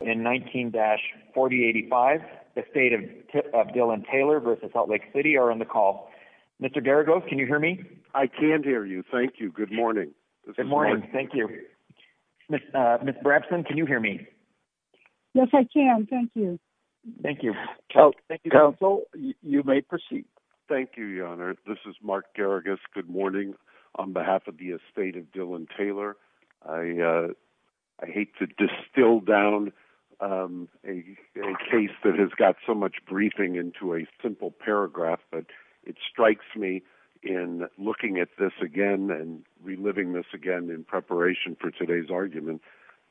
in 19-4085, Estate of Dillon Taylor v. Salt Lake City are on the call. Mr. Garagos, can you hear me? I can hear you. Thank you. Good morning. This is Mark. Good morning. Thank you. Ms. Brabson, can you hear me? Yes, I can. Thank you. Thank you. Thank you, counsel. You may proceed. Thank you, Your Honor. This is Mark Garagos. Good morning. On behalf of the Estate of Dillon Taylor, I hate to distill down a case that has got so much briefing into a simple paragraph, but it strikes me in looking at this again and reliving this again in preparation for today's argument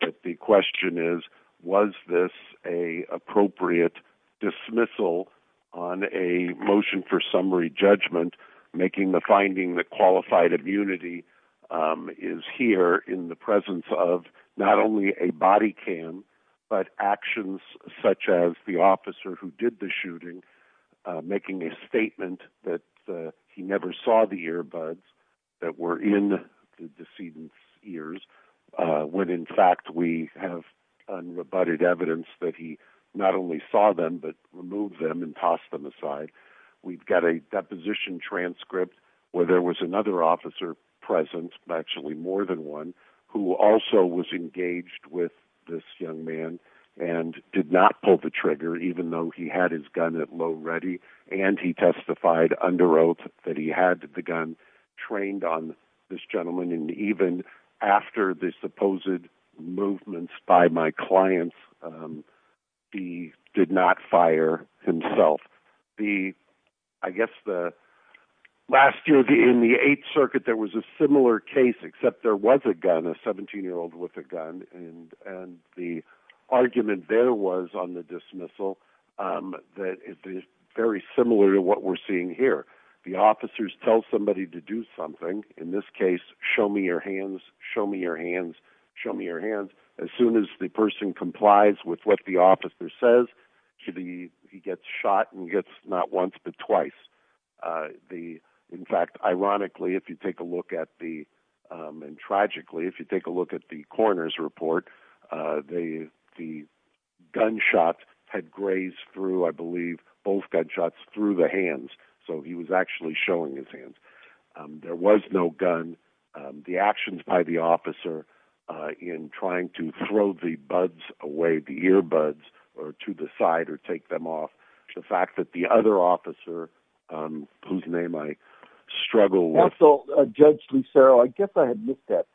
that the question is, was this an appropriate dismissal on a motion for summary judgment, making the finding that qualified immunity is here in the presence of not only a body cam, but actions such as the officer who did the shooting making a statement that he never saw the earbuds that were in the decedent's ears, when in fact we have unrebutted evidence that he not only saw them, but removed them and tossed them aside. We've got a deposition transcript where there was another officer present, actually more than one, who also was engaged with this young man and did not pull the trigger, even though he had his gun at low ready, and he testified under oath that he had the gun trained on this gentleman, and even after the supposed movements by my clients, he did not fire himself. I guess last year in the Eighth Circuit there was a similar case, except there was a gun, he was killed with a gun, and the argument there was on the dismissal that is very similar to what we're seeing here. The officers tell somebody to do something, in this case, show me your hands, show me your hands, show me your hands, as soon as the person complies with what the officer says, he gets shot and gets not once, but twice. In fact, ironically, if you take a look at the, and tragically, if you take a look at the coroner's report, the gunshot had grazed through, I believe, both gunshots through the hands, so he was actually showing his hands. There was no gun. The actions by the officer in trying to throw the buds away, the earbuds, or to the side or take them off, the fact that the other officer, whose name I struggle with. Also, Judge Lucero, I guess I had missed that,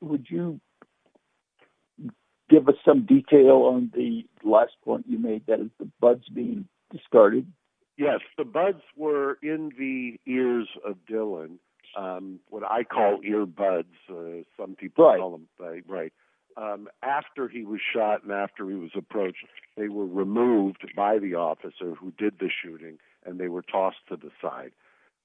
would you give us some detail on the last point you made, that is the buds being discarded? Yes, the buds were in the ears of Dylan, what I call earbuds, some people call them that. After he was shot and after he was approached, they were removed by the officer who did the shooting and they were tossed to the side.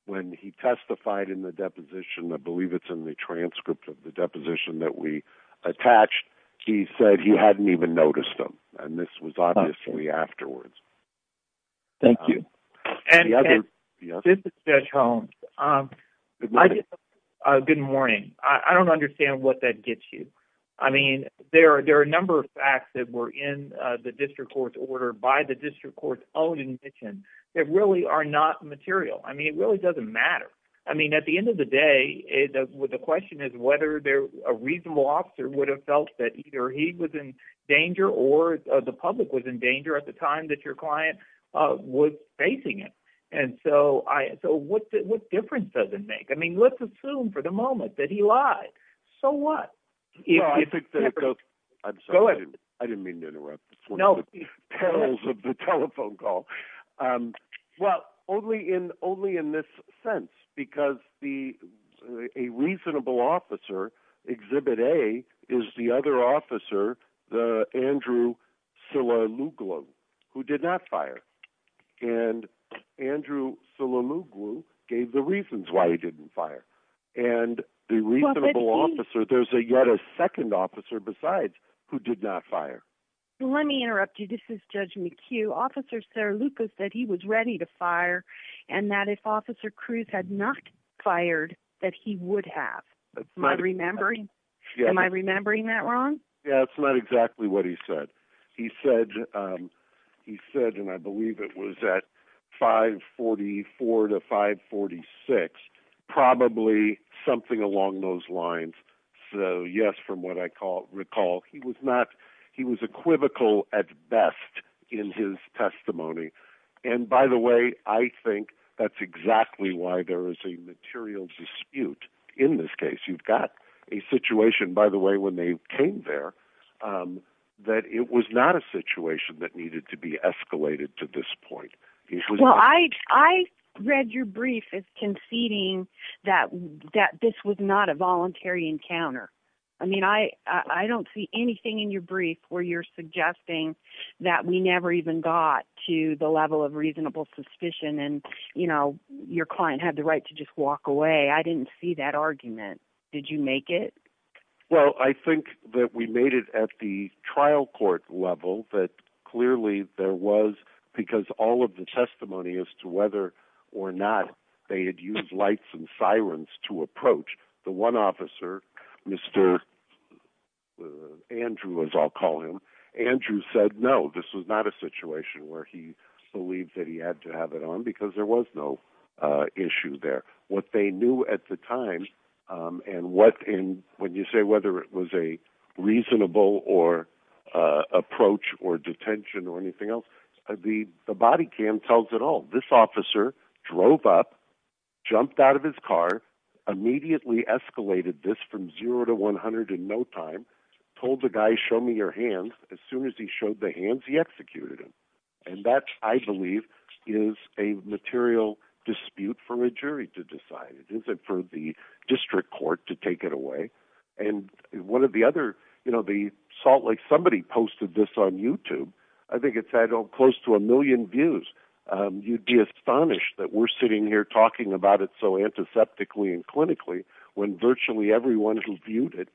When he testified in the deposition, I believe it's in the transcript of the deposition that we attached, he said he hadn't even noticed them, and this was obviously afterwards. Thank you. This is Judge Holmes, good morning, I don't understand what that gets you. There are a number of facts that were in the district court's order by the district court's own admission that really are not material, it really doesn't matter. At the end of the day, the question is whether a reasonable officer would have felt that either he was in danger or the public was in danger at the time that your client was facing it. What difference does it make? Let's assume for the moment that he lied. So what? Go ahead. I didn't mean to interrupt, it's one of the perils of the telephone call. Well, only in this sense, because a reasonable officer, Exhibit A, is the other officer, the Andrew Silamuglu, who did not fire, and Andrew Silamuglu gave the reasons why he didn't fire. And the reasonable officer, there's yet a second officer besides, who did not fire. Let me interrupt you, this is Judge McHugh, Officer Saralucca said he was ready to fire, and that if Officer Cruz had not fired, that he would have. Am I remembering that wrong? Yeah, that's not exactly what he said. He said, and I believe it was at 544 to 546, probably something along those lines. So yes, from what I recall, he was equivocal at best in his testimony. And by the way, I think that's exactly why there is a material dispute in this case. You've got a situation, by the way, when they came there, that it was not a situation that needed to be escalated to this point. Well, I read your brief as conceding that this was not a voluntary encounter. I mean, I don't see anything in your brief where you're suggesting that we never even got to the level of reasonable suspicion, and your client had the right to just walk away. I didn't see that argument. Did you make it? Well, I think that we made it at the trial court level, but clearly there was, because all of the testimony as to whether or not they had used lights and sirens to approach the one officer, Mr. Andrew, as I'll call him, Andrew said, no, this was not a situation where he believed that he had to have it on, because there was no issue there. What they knew at the time, and when you say whether it was a reasonable approach or detention or anything else, the body cam tells it all. This officer drove up, jumped out of his car, immediately escalated this from zero to 100 in no time, told the guy, show me your hands. As soon as he showed the hands, he executed him, and that, I believe, is a material dispute for a jury to decide. It isn't for the district court to take it away. One of the other... Salt Lake, somebody posted this on YouTube. I think it's had close to a million views. You'd be astonished that we're sitting here talking about it so antiseptically and clinically when virtually everyone who's viewed it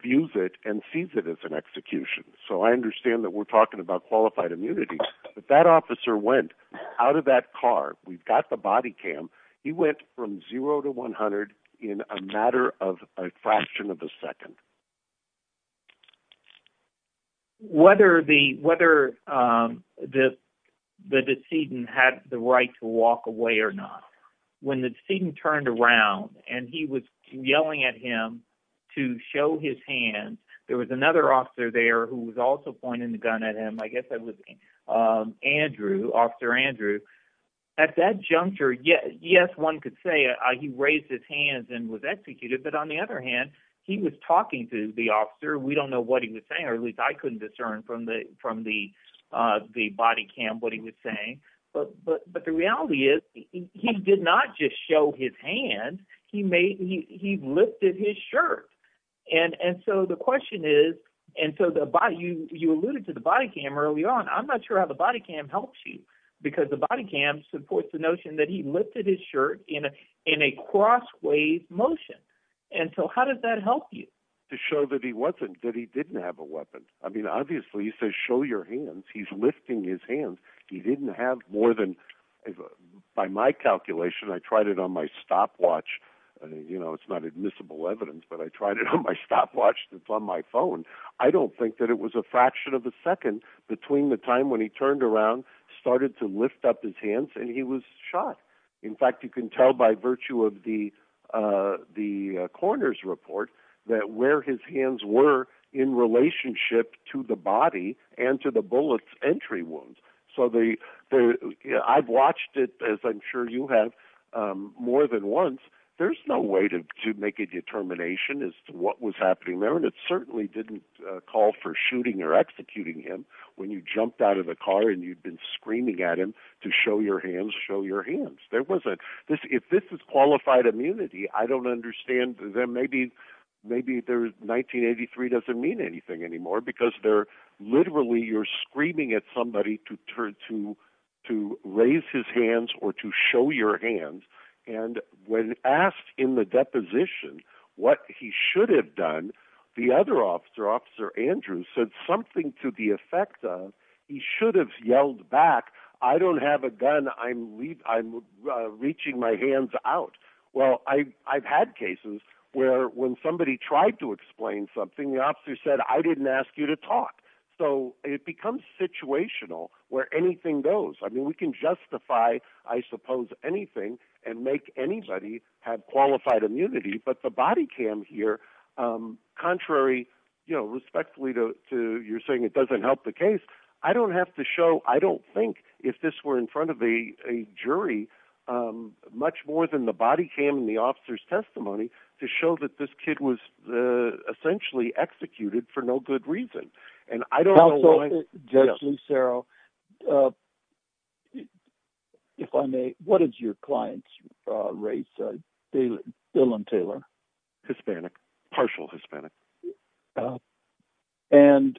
views it and sees it as an execution. I understand that we're talking about qualified immunity, but that officer went out of that car. We've got the body cam. He went from zero to 100 in a matter of a fraction of a second. Whether the decedent had the right to walk away or not, when the decedent turned around and he was yelling at him to show his hands, there was another officer there who was also pointing the gun at him. I guess that was Andrew, Officer Andrew. At that juncture, yes, one could say he raised his hands and was executed, but on the other hand, he was talking to the officer. We don't know what he was saying, or at least I couldn't discern from the body cam what he was saying, but the reality is he did not just show his hands, he lifted his shirt. The question is, you alluded to the body cam early on. I'm not sure how the body cam helps you, because the body cam supports the notion that he lifted his shirt in a cross-way motion. How does that help you? To show that he wasn't, that he didn't have a weapon. Obviously, he says, show your hands. He's lifting his hands. He didn't have more than... By my calculation, I tried it on my stopwatch. It's not admissible evidence, but I tried it on my stopwatch on my phone. I don't think that it was a fraction of a second between the time when he turned around, started to lift up his hands, and he was shot. In fact, you can tell by virtue of the coroner's report that where his hands were in relationship to the body and to the bullet's entry wound. I've watched it, as I'm sure you have, more than once. There's no way to make a determination as to what was happening there, and it certainly didn't call for shooting or executing him when you jumped out of the car and you'd been screaming at him to show your hands, show your hands. If this is qualified immunity, I don't understand that maybe 1983 doesn't mean anything anymore, because literally you're screaming at somebody to raise his hands or to show your hands. When asked in the deposition what he should have done, the other officer, Officer Andrews, said something to the effect of, he should have yelled back, I don't have a gun. I'm reaching my hands out. Well, I've had cases where when somebody tried to explain something, the officer said, I didn't ask you to talk. It becomes situational where anything goes. We can justify, I suppose, anything and make anybody have qualified immunity, but the body cam here, contrary respectfully to your saying it doesn't help the case, I don't think if this were in front of a jury, much more than the body cam and the officer's testimony, to show that this kid was essentially executed for no good reason. And I don't know why- Counsel, Judge Lucero, if I may, what is your client's race, Dylan Taylor? Hispanic, partial Hispanic. And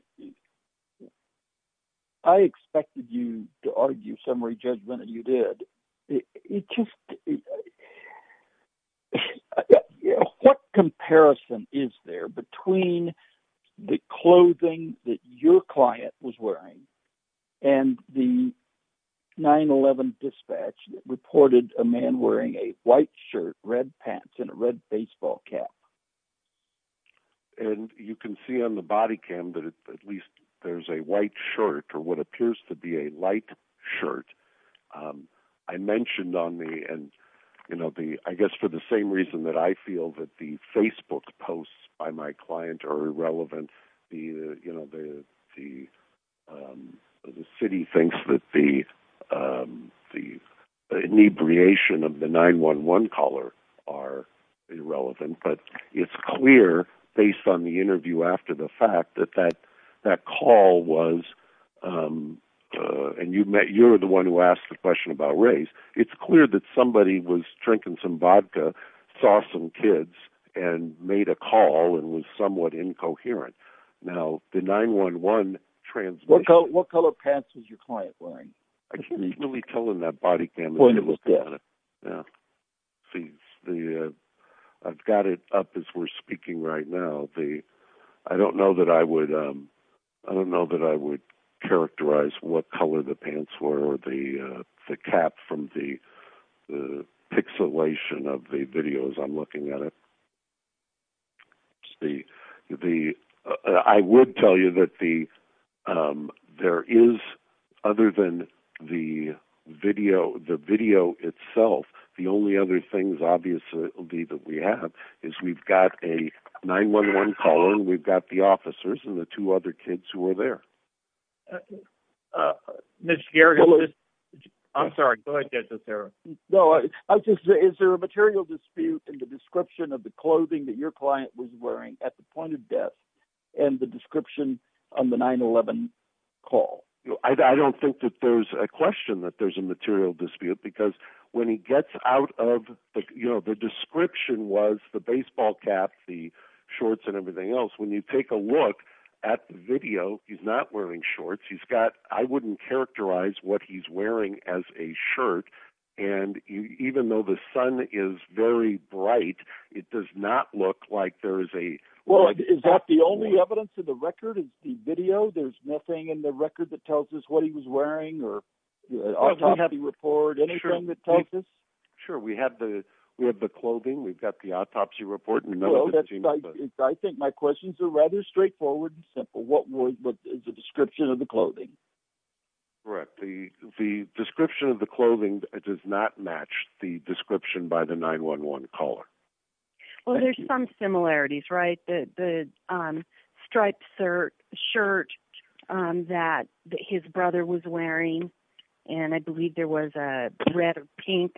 I expected you to argue summary judgment and you did. It just, what comparison is there between the clothing that your client was wearing and the 9-11 dispatch that reported a man wearing a white shirt, red pants, and a red baseball cap? And you can see on the body cam that at least there's a white shirt or what appears to be a light shirt. I mentioned on the, and I guess for the same reason that I feel that the Facebook posts by my client are irrelevant, the city thinks that the inebriation of the 9-11 caller are irrelevant. But it's clear, based on the interview after the fact, that that call was, and you're the one who asked the question about race, it's clear that somebody was drinking some vodka, saw some kids, and made a call and was somewhat incoherent. Now the 9-11 transmission- What color pants was your client wearing? I can't really tell in that body cam. Well, it was black. I've got it up as we're speaking right now. I don't know that I would characterize what color the pants were or the cap from the pixelation of the video as I'm looking at it. I would tell you that there is, other than the video itself, the only other things obviously that we have is we've got a 9-11 caller, we've got the officers, and the two other kids who were there. I'm sorry. Go ahead, Denis. No, I was just, is there a material dispute in the description of the clothing that your client was wearing at the point of death and the description on the 9-11 call? I don't think that there's a question that there's a material dispute, because when he gets out of, the description was the baseball cap, the shorts, and everything else. When you take a look at the video, he's not wearing shorts. I wouldn't characterize what he's wearing as a shirt, and even though the sun is very bright, it does not look like there is a- Well, is that the only evidence in the record, the video? There's nothing in the record that tells us what he was wearing, or autopsy report, anything that tells us? Sure. We have the clothing, we've got the autopsy report, and none of the team's- I think my questions are rather straightforward and simple. What is the description of the clothing? Correct. The description of the clothing does not match the description by the 9-11 caller. Well, there's some similarities, right? The striped shirt that his brother was wearing, and I believe there was a red or pink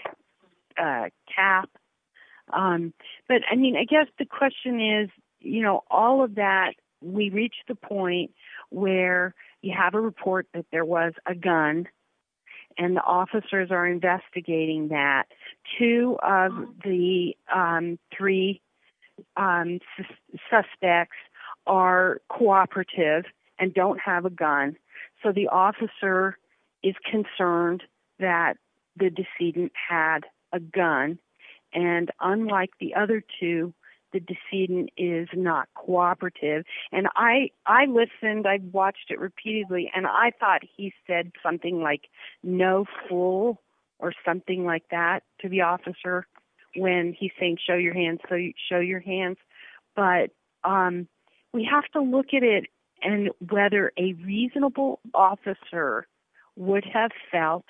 cap. But I mean, I guess the question is, all of that, we reached the point where you have a report that there was a gun, and the officers are investigating that. Two of the three suspects are cooperative and don't have a gun, so the officer is concerned that the decedent had a gun. And unlike the other two, the decedent is not cooperative. And I listened, I watched it repeatedly, and I thought he said something like, no fool, or something like that to the officer when he's saying, show your hands, show your hands. But we have to look at it and whether a reasonable officer would have felt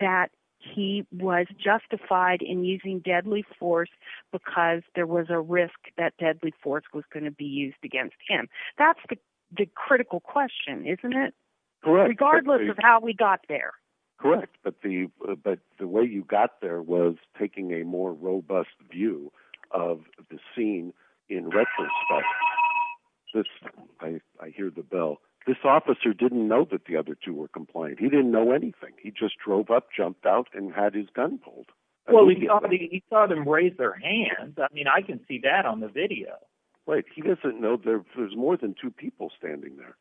that he was justified in using deadly force because there was a risk that deadly force was going to be used against him. That's the critical question, isn't it? Correct. Regardless of how we got there. Correct. But the way you got there was taking a more robust view of the scene in retrospect. I hear the bell. This officer didn't know that the other two were compliant. He didn't know anything. He just drove up, jumped out, and had his gun pulled. Well, he saw them raise their hands. I mean, I can see that on the video. Right. But he doesn't know there's more than two people standing there.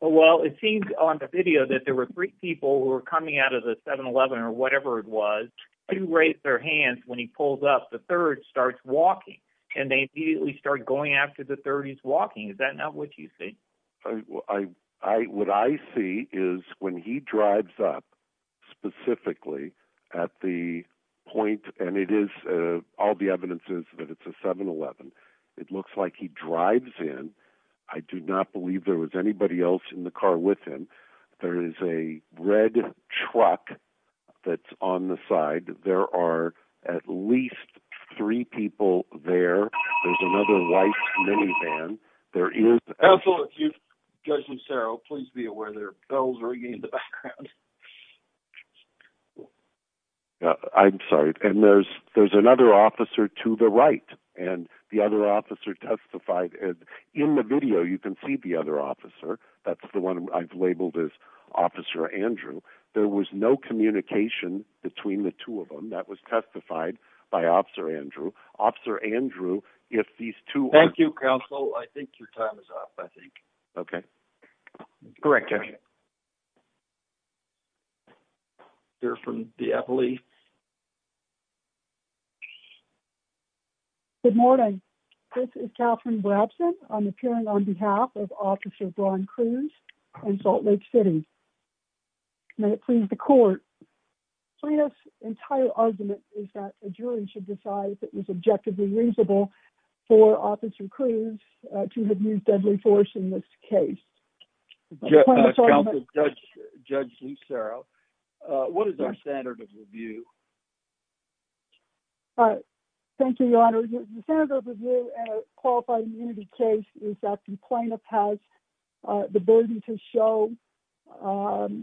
Well, it seems on the video that there were three people who were coming out of the 7-Eleven or whatever it was, who raised their hands when he pulls up. The third starts walking, and they immediately start going after the third. He's walking. Is that not what you think? What I see is when he drives up specifically at the point, and it is, all the evidence is that it's a 7-Eleven. It looks like he drives in. I do not believe there was anybody else in the car with him. There is a red truck that's on the side. There are at least three people there. There's another white minivan. There is... Absolutely. Judge Lucero, please be aware there are bells ringing in the background. I'm sorry. And there's another officer to the right, and the other officer testified. In the video, you can see the other officer. That's the one I've labeled as Officer Andrew. There was no communication between the two of them. That was testified by Officer Andrew. Officer Andrew, if these two... Thank you, counsel. Okay. Correct, Judge. Okay. We'll hear from the appellee. Good morning. This is Catherine Brabson. I'm appearing on behalf of Officer Braun Cruz in Salt Lake City. May it please the court, Freda's entire argument is that a jury should decide if it was objectively reasonable for Officer Cruz to have used deadly force in this case. Counsel, Judge Lucero, what is our standard of review? Thank you, Your Honor. The standard of review in a qualified immunity case is that the plaintiff has the burden to show,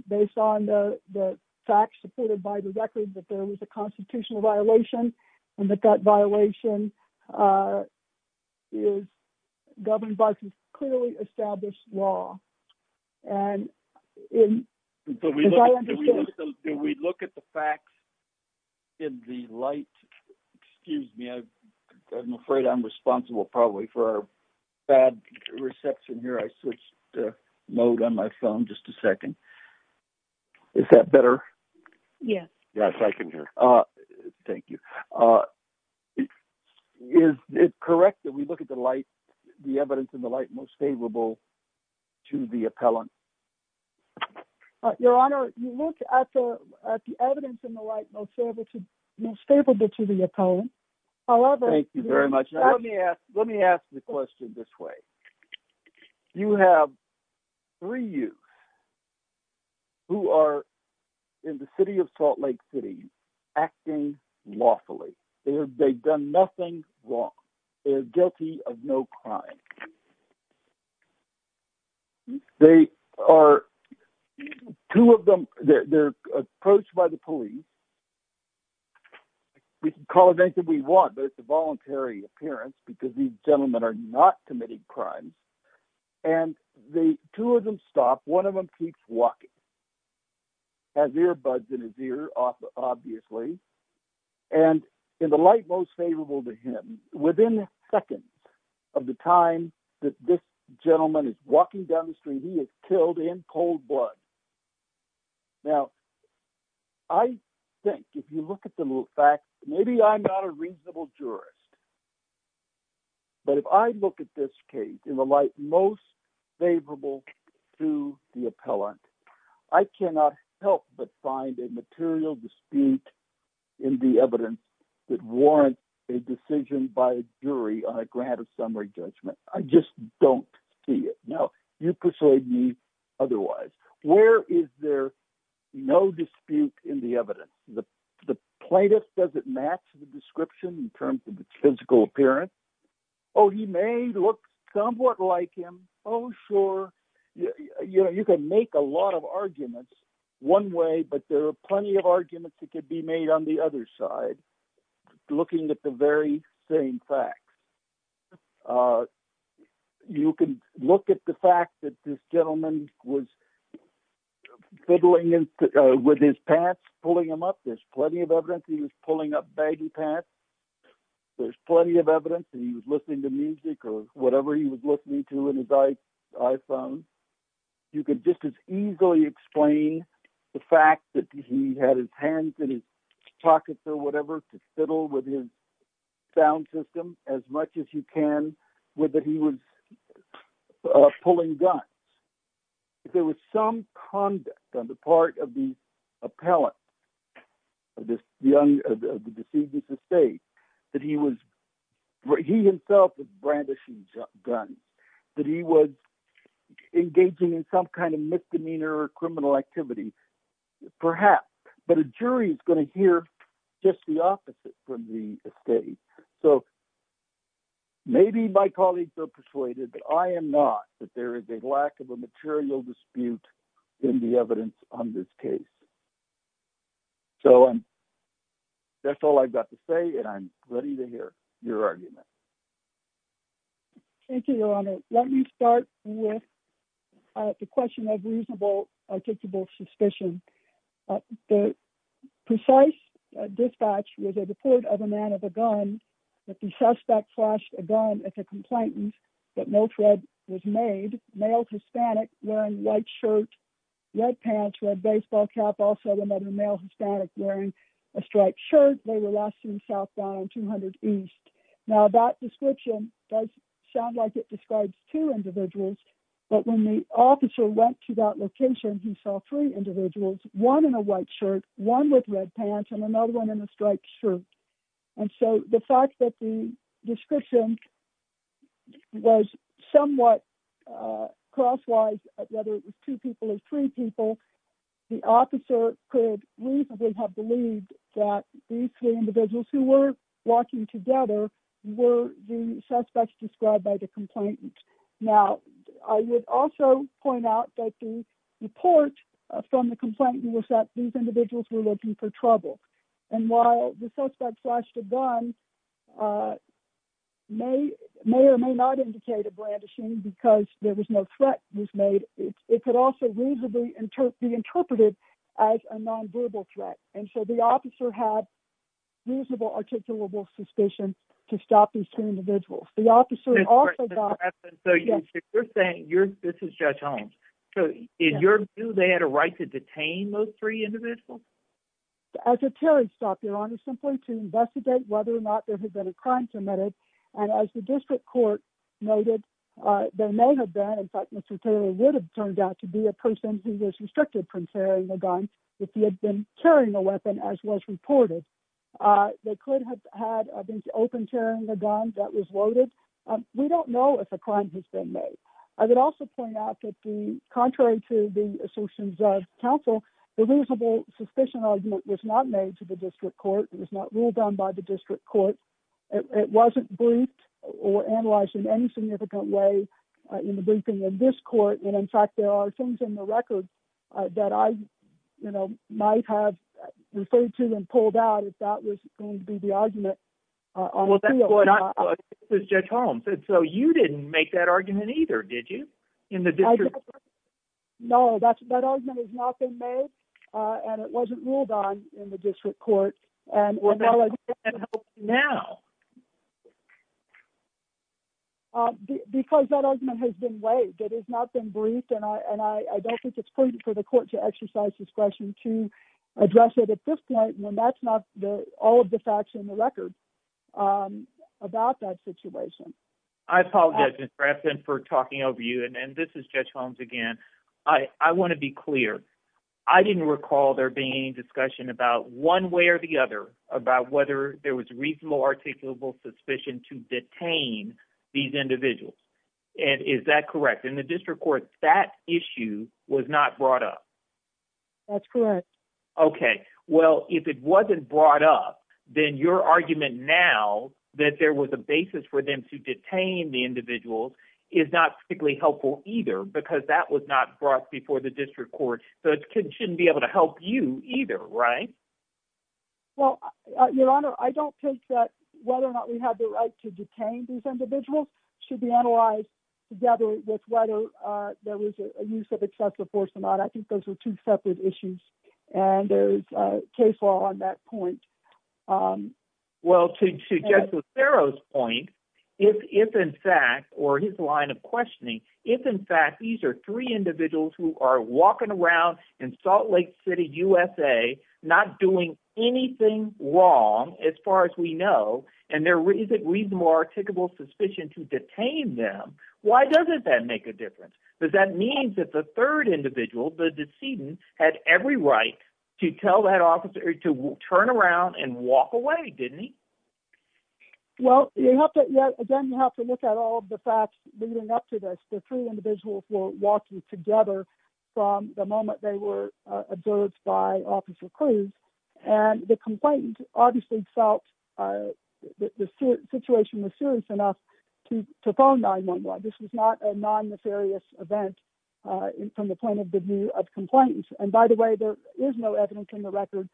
based on the facts supported by the record, that there was a constitutional violation and that that violation is governed by some clearly established law. Do we look at the facts in the light? Excuse me. I'm afraid I'm responsible, probably, for our bad reception here. I switched mode on my phone. Just a second. Is that better? Yes. Yes, I can hear. Thank you. Is it correct that we look at the evidence in the light most favorable to the appellant? Your Honor, you look at the evidence in the light most favorable to the appellant. However... Thank you very much. Let me ask the question this way. You have three youths who are in the city of Salt Lake City acting lawfully. They've done nothing wrong. They're guilty of no crime. They are... Two of them, they're approached by the police. We can call it anything we want, but it's a voluntary appearance because these gentlemen are not committing crime, and the two of them stop. One of them keeps walking, has earbuds in his ear, obviously. And in the light most favorable to him, within seconds of the time that this gentleman is walking down the street, he is killed in cold blood. Now, I think, if you look at the facts, maybe I'm not a reasonable jurist. But if I look at this case in the light most favorable to the appellant, I cannot help but find a material dispute in the evidence that warrants a decision by a jury on a grant of summary judgment. I just don't see it. Now, you persuade me otherwise. Where is there no dispute in the evidence? The plaintiff doesn't match the description in terms of its physical appearance. Oh, he may look somewhat like him. Oh, sure. You can make a lot of arguments one way, but there are plenty of arguments that could be made on the other side, looking at the very same facts. You can look at the fact that this gentleman was fiddling with his pants, pulling them up. There's plenty of evidence he was pulling up baggy pants. There's plenty of evidence that he was listening to music or whatever he was listening to in his iPhone. You could just as easily explain the fact that he had his hands in his pockets or whatever to fiddle with his sound system as much as you can, that he was pulling guns. If there was some conduct on the part of the appellant of the deceased's estate, that he himself was brandishing guns, that he was engaging in some kind of misdemeanor or criminal activity, perhaps. But a jury is going to hear just the opposite from the estate. So maybe my colleagues are persuaded, but I am not, that there is a lack of a material dispute in the evidence on this case. So that's all I've got to say, and I'm ready to hear your argument. Thank you, Your Honor. Let me start with the question of reasonable, articulable suspicion. The precise dispatch was a report of a man with a gun, that the suspect flashed a gun as a complainant, but no threat was made. Male, Hispanic, wearing white shirt, red pants, red baseball cap, also another male, Hispanic, wearing a striped shirt. They were last seen southbound 200 East. Now that description does sound like it describes two individuals, but when the officer went to that location, he saw three individuals, one in a white shirt, one with red pants, and another one in a striped shirt. And so the fact that the description was somewhat crosswise, whether it was two people or three people, the officer could reasonably have believed that these three individuals, who were walking together, were the suspects described by the complainant. Now, I would also point out that the report from the complainant was that these individuals were looking for trouble. And while the suspect flashed a gun may or may not indicate a brandishing because there was no threat was made, it could also reasonably be interpreted as a nonverbal threat. And so the officer had reasonable articulable suspicion to stop these two individuals. The officer also got... So you're saying, this is Judge Holmes, so is your view they had a right to detain those three individuals? As a terrorist stop, Your Honor, simply to investigate whether or not there had been a crime committed. And as the district court noted, there may have been, in fact, Mr. Taylor would have turned out to be a person who was restricted from carrying a gun if he had been carrying a weapon, as was reported. They could have had, I think, open carrying a gun that was loaded. We don't know if a crime has been made. I would also point out that the contrary to the assertions of counsel, the reasonable suspicion argument was not made to the district court. It was not ruled on by the district court. It wasn't briefed or analyzed in any significant way in the briefing of this court. And in fact, there are things in the record that I might have referred to and pulled out if that was going to be the argument on appeal. Well, Judge Holmes said, so you didn't make that argument either, did you? In the district court? No, that argument has not been made and it wasn't ruled on in the district court. Well, then how can that help now? Because that argument has been weighed. It has not been briefed. And I don't think it's prudent for the court to exercise discretion to address it at this point when that's not all of the facts in the record about that situation. I apologize, Ms. Braxton, for talking over you. And this is Judge Holmes again. I want to be clear. I didn't recall there being any discussion about one way or the other about whether there was reasonable articulable suspicion to detain these individuals. And is that correct? In the district court, that issue was not brought up. That's correct. Okay. Well, if it wasn't brought up, then your argument now that there was a basis for them to detain the individuals is not particularly helpful either because that was not brought before the district court. So it shouldn't be able to help you either, right? Well, Your Honor, I don't think that whether or not we have the right to detain these individuals should be analyzed together with whether there was a use of excessive force or not. I think those are two separate issues. And there's case law on that point. Well, to Judge Lucero's point, if in fact, or his line of questioning, if in fact these are three individuals who are walking around in Salt Lake City, USA, not doing anything wrong, as far as we know, and there isn't reasonable articulable suspicion to detain them, why doesn't that make a difference? Because that means that the third individual, the decedent, had every right to tell that officer to turn around and walk away, didn't he? Well, again, you have to look at all of the facts leading up to this. The three individuals were walking together from the moment they were observed by Officer Cruz. And the complainant obviously felt that the situation was serious enough to phone 911. This was not a non-nefarious event from the point of the view of complainants. And by the way, there is no evidence in the record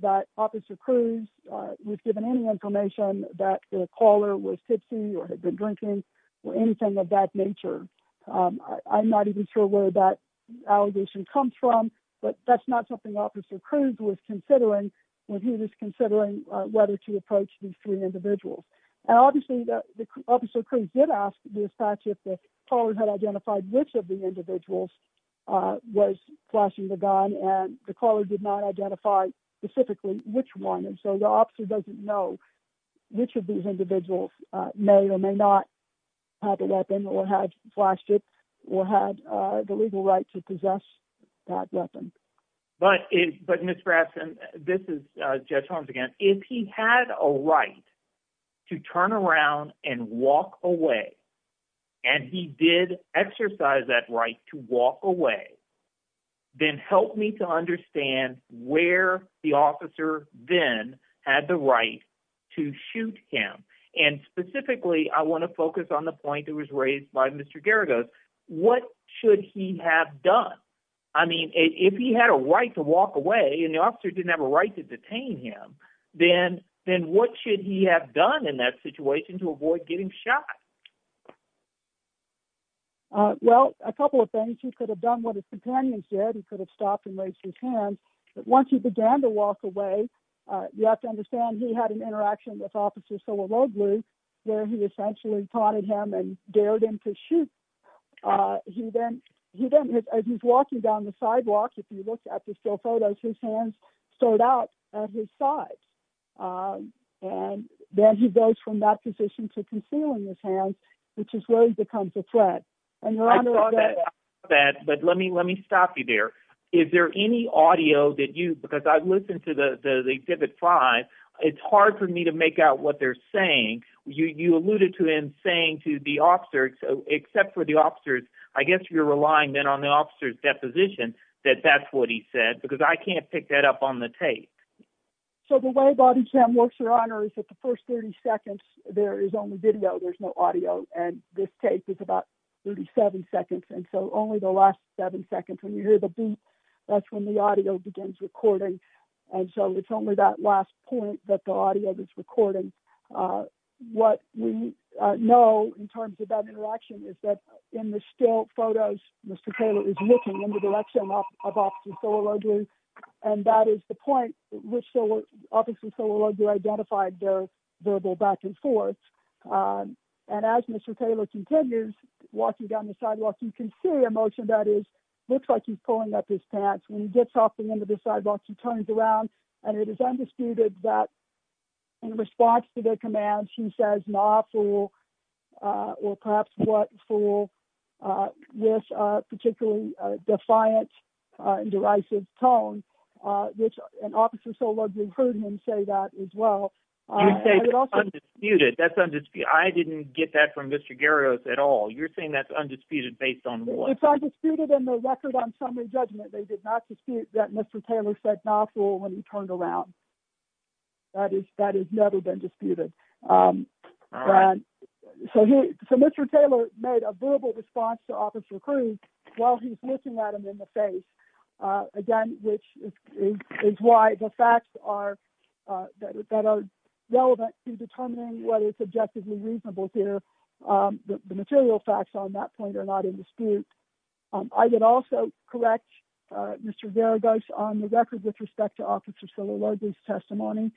that Officer Cruz was given any information that the caller was tipsy or had been drinking or anything of that nature. I'm not even sure where that allegation comes from, but that's not something Officer Cruz was considering when he was considering whether to approach these three individuals. And obviously, Officer Cruz did ask the dispatcher if the caller had identified which of the individuals was flashing the gun, and the caller did not identify specifically which one. So the officer doesn't know which of these individuals may or may not have a weapon or had flashed it or had the legal right to possess that weapon. But Ms. Braxton, this is Judge Holmes again. If he had a right to turn around and walk away, and he did exercise that right to walk away, then help me to understand where the officer then had the right to shoot him. And specifically, I want to focus on the point that was raised by Mr. Geragos. What should he have done? I mean, if he had a right to walk away and the officer didn't have a right to detain him, then what should he have done in that situation to avoid getting shot? Well, a couple of things. He could have done what his companions did. He could have stopped and raised his hand. But once he began to walk away, you have to understand he had an interaction with Officer Soloroglu, where he essentially taunted him and dared him to shoot. He then, as he's walking down the sidewalk, if you look at the still photos, his hands stood out at his side. And then he goes from that position to concealing his hands, which is where he becomes a threat. I saw that, but let me stop you there. Is there any audio that you, because I've listened to the exhibit five, it's hard for me to make out what they're saying. You alluded to him saying to the officer, except for the officers, I guess you're relying then on the officer's deposition, that that's what he said, because I can't pick that up on the tape. So the way body cam works, Your Honor, is that the first 30 seconds, there is only video. There's no audio. And this tape is about 37 seconds. And so only the last seven seconds when you hear the beep, that's when the audio begins recording. And so it's only that last point that the audio is recording. What we know in terms of that interaction is that in the still photos, Mr. Taylor is walking down the sidewalk, you can see a motion that is, looks like he's pulling up his pants. When he gets off the end of the sidewalk, he turns around and it is undisputed that in response to their commands, he says, nah, fool, or perhaps what, fool, with a particularly definite meaning. I didn't get that from Mr. Garris at all. You're saying that's undisputed based on what? It's undisputed in the record on summary judgment. They did not dispute that Mr. Taylor said, nah, fool, when he turned around. That has never been disputed. So Mr. Taylor made a verbal response to Officer Cruz while he's looking at him. Again, which is why the facts are, that are relevant to determining whether it's objectively reasonable here. The material facts on that point are not in dispute. I would also correct Mr. Zaragoza on the record with respect to Officer Silleloge's testimony.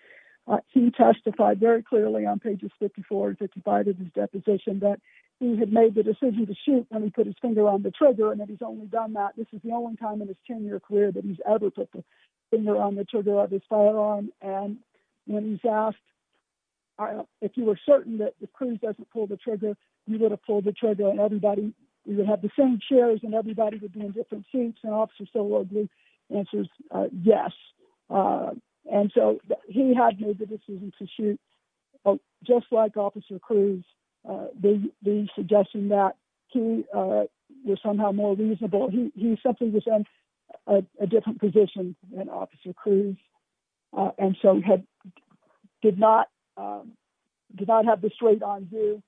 He testified very clearly on pages 54 to 55 of his deposition that he had made the decision to shoot when he put his finger on the trigger. And that he's only done that, this is the only time in his 10-year career that he's ever put the finger on the trigger of his firearm. And when he's asked, if you were certain that Cruz doesn't pull the trigger, you would have pulled the trigger and everybody would have the same shares and everybody would be in different seats. And Officer Silleloge answers, yes. And so he had made the decision to shoot. Just like Officer Cruz, the suggestion that he was somehow more reasonable, he simply was in a different position than Officer Cruz. And so he did not have the straight on view,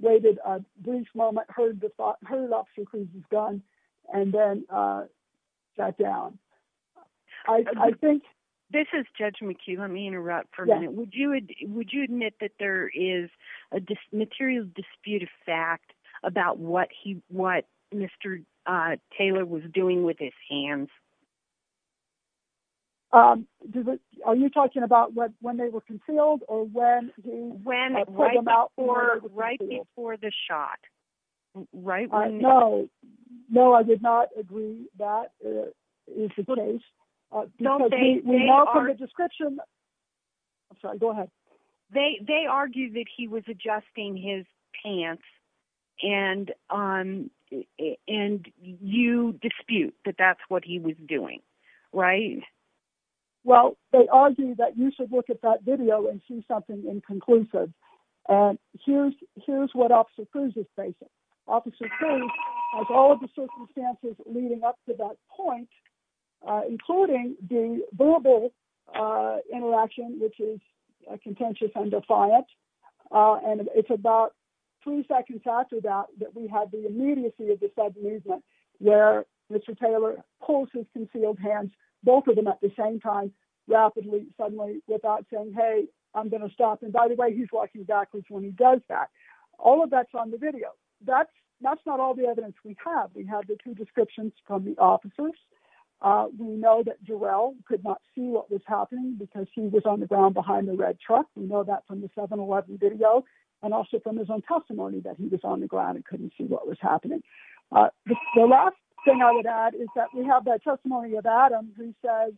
waited a brief moment, heard Officer Cruz's gun, and then sat down. I think... This is Judge McHugh, let me interrupt for a minute. Would you admit that there is a material dispute of fact about what Mr. Taylor was doing with his hands? Are you talking about when they were concealed or when he... Right before the shot. No, I did not agree that is the case. We know from the description... I'm sorry, go ahead. They argue that he was adjusting his pants and you dispute that that's what he was doing, right? Well, they argue that you should look at that video and see something inconclusive. Here's what Officer Cruz is facing. Officer Cruz has all of the circumstances leading up to that point, including the verbal interaction, which is contentious and defiant. And it's about three seconds after that, that we have the immediacy of the sudden movement where Mr. Taylor pulls his concealed hands, both of them at the same time, rapidly, suddenly without saying, hey, I'm going to stop. And by the way, he's walking backwards when he does that. All of that's on the video. So that's not all the evidence we have. We have the two descriptions from the officers. We know that Jarrell could not see what was happening because he was on the ground behind the red truck. We know that from the 7-11 video and also from his own testimony that he was on the ground and couldn't see what was happening. The last thing I would add is that we have that testimony of Adam who says,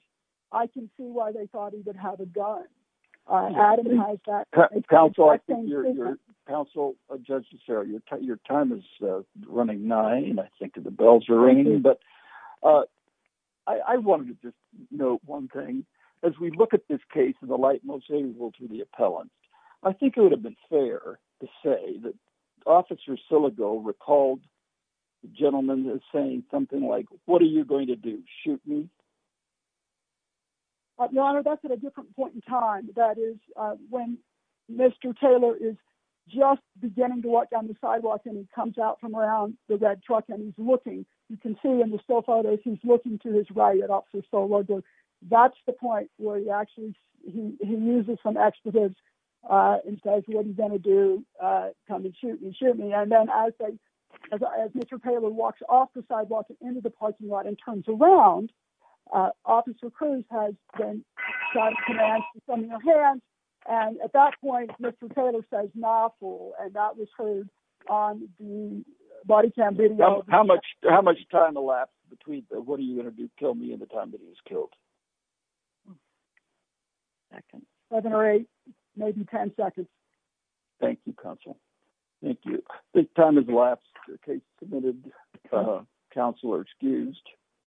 I can see why they thought he would have a gun. I think your time is running nine. I think the bells are ringing. But I wanted to just note one thing. As we look at this case, the light most able to the appellant, I think it would have been fair to say that Officer Silligo recalled the gentleman saying something like, what are you going to do? Shoot me? Your Honor, that's at a different point in time. That is when Mr. Taylor is just beginning to walk down the sidewalk and he comes out from around the red truck and he's looking. You can see in the still photos, he's looking to his right at Officer Silligo. That's the point where he actually he uses some expletives and says, what are you going to do? Come and shoot me, shoot me. And then as Mr. Taylor walks off the sidewalk and into the parking lot and turns around, Officer Cruz has been shot in the hand. And at that point, Mr. Taylor says, not cool. And that was heard on the body cam video. How much? How much time elapsed between the what are you going to do? Kill me in the time that he was killed? Second, seven or eight, maybe 10 seconds. Thank you, Counsel. Thank you. This time is the last case committed. Counselor excused.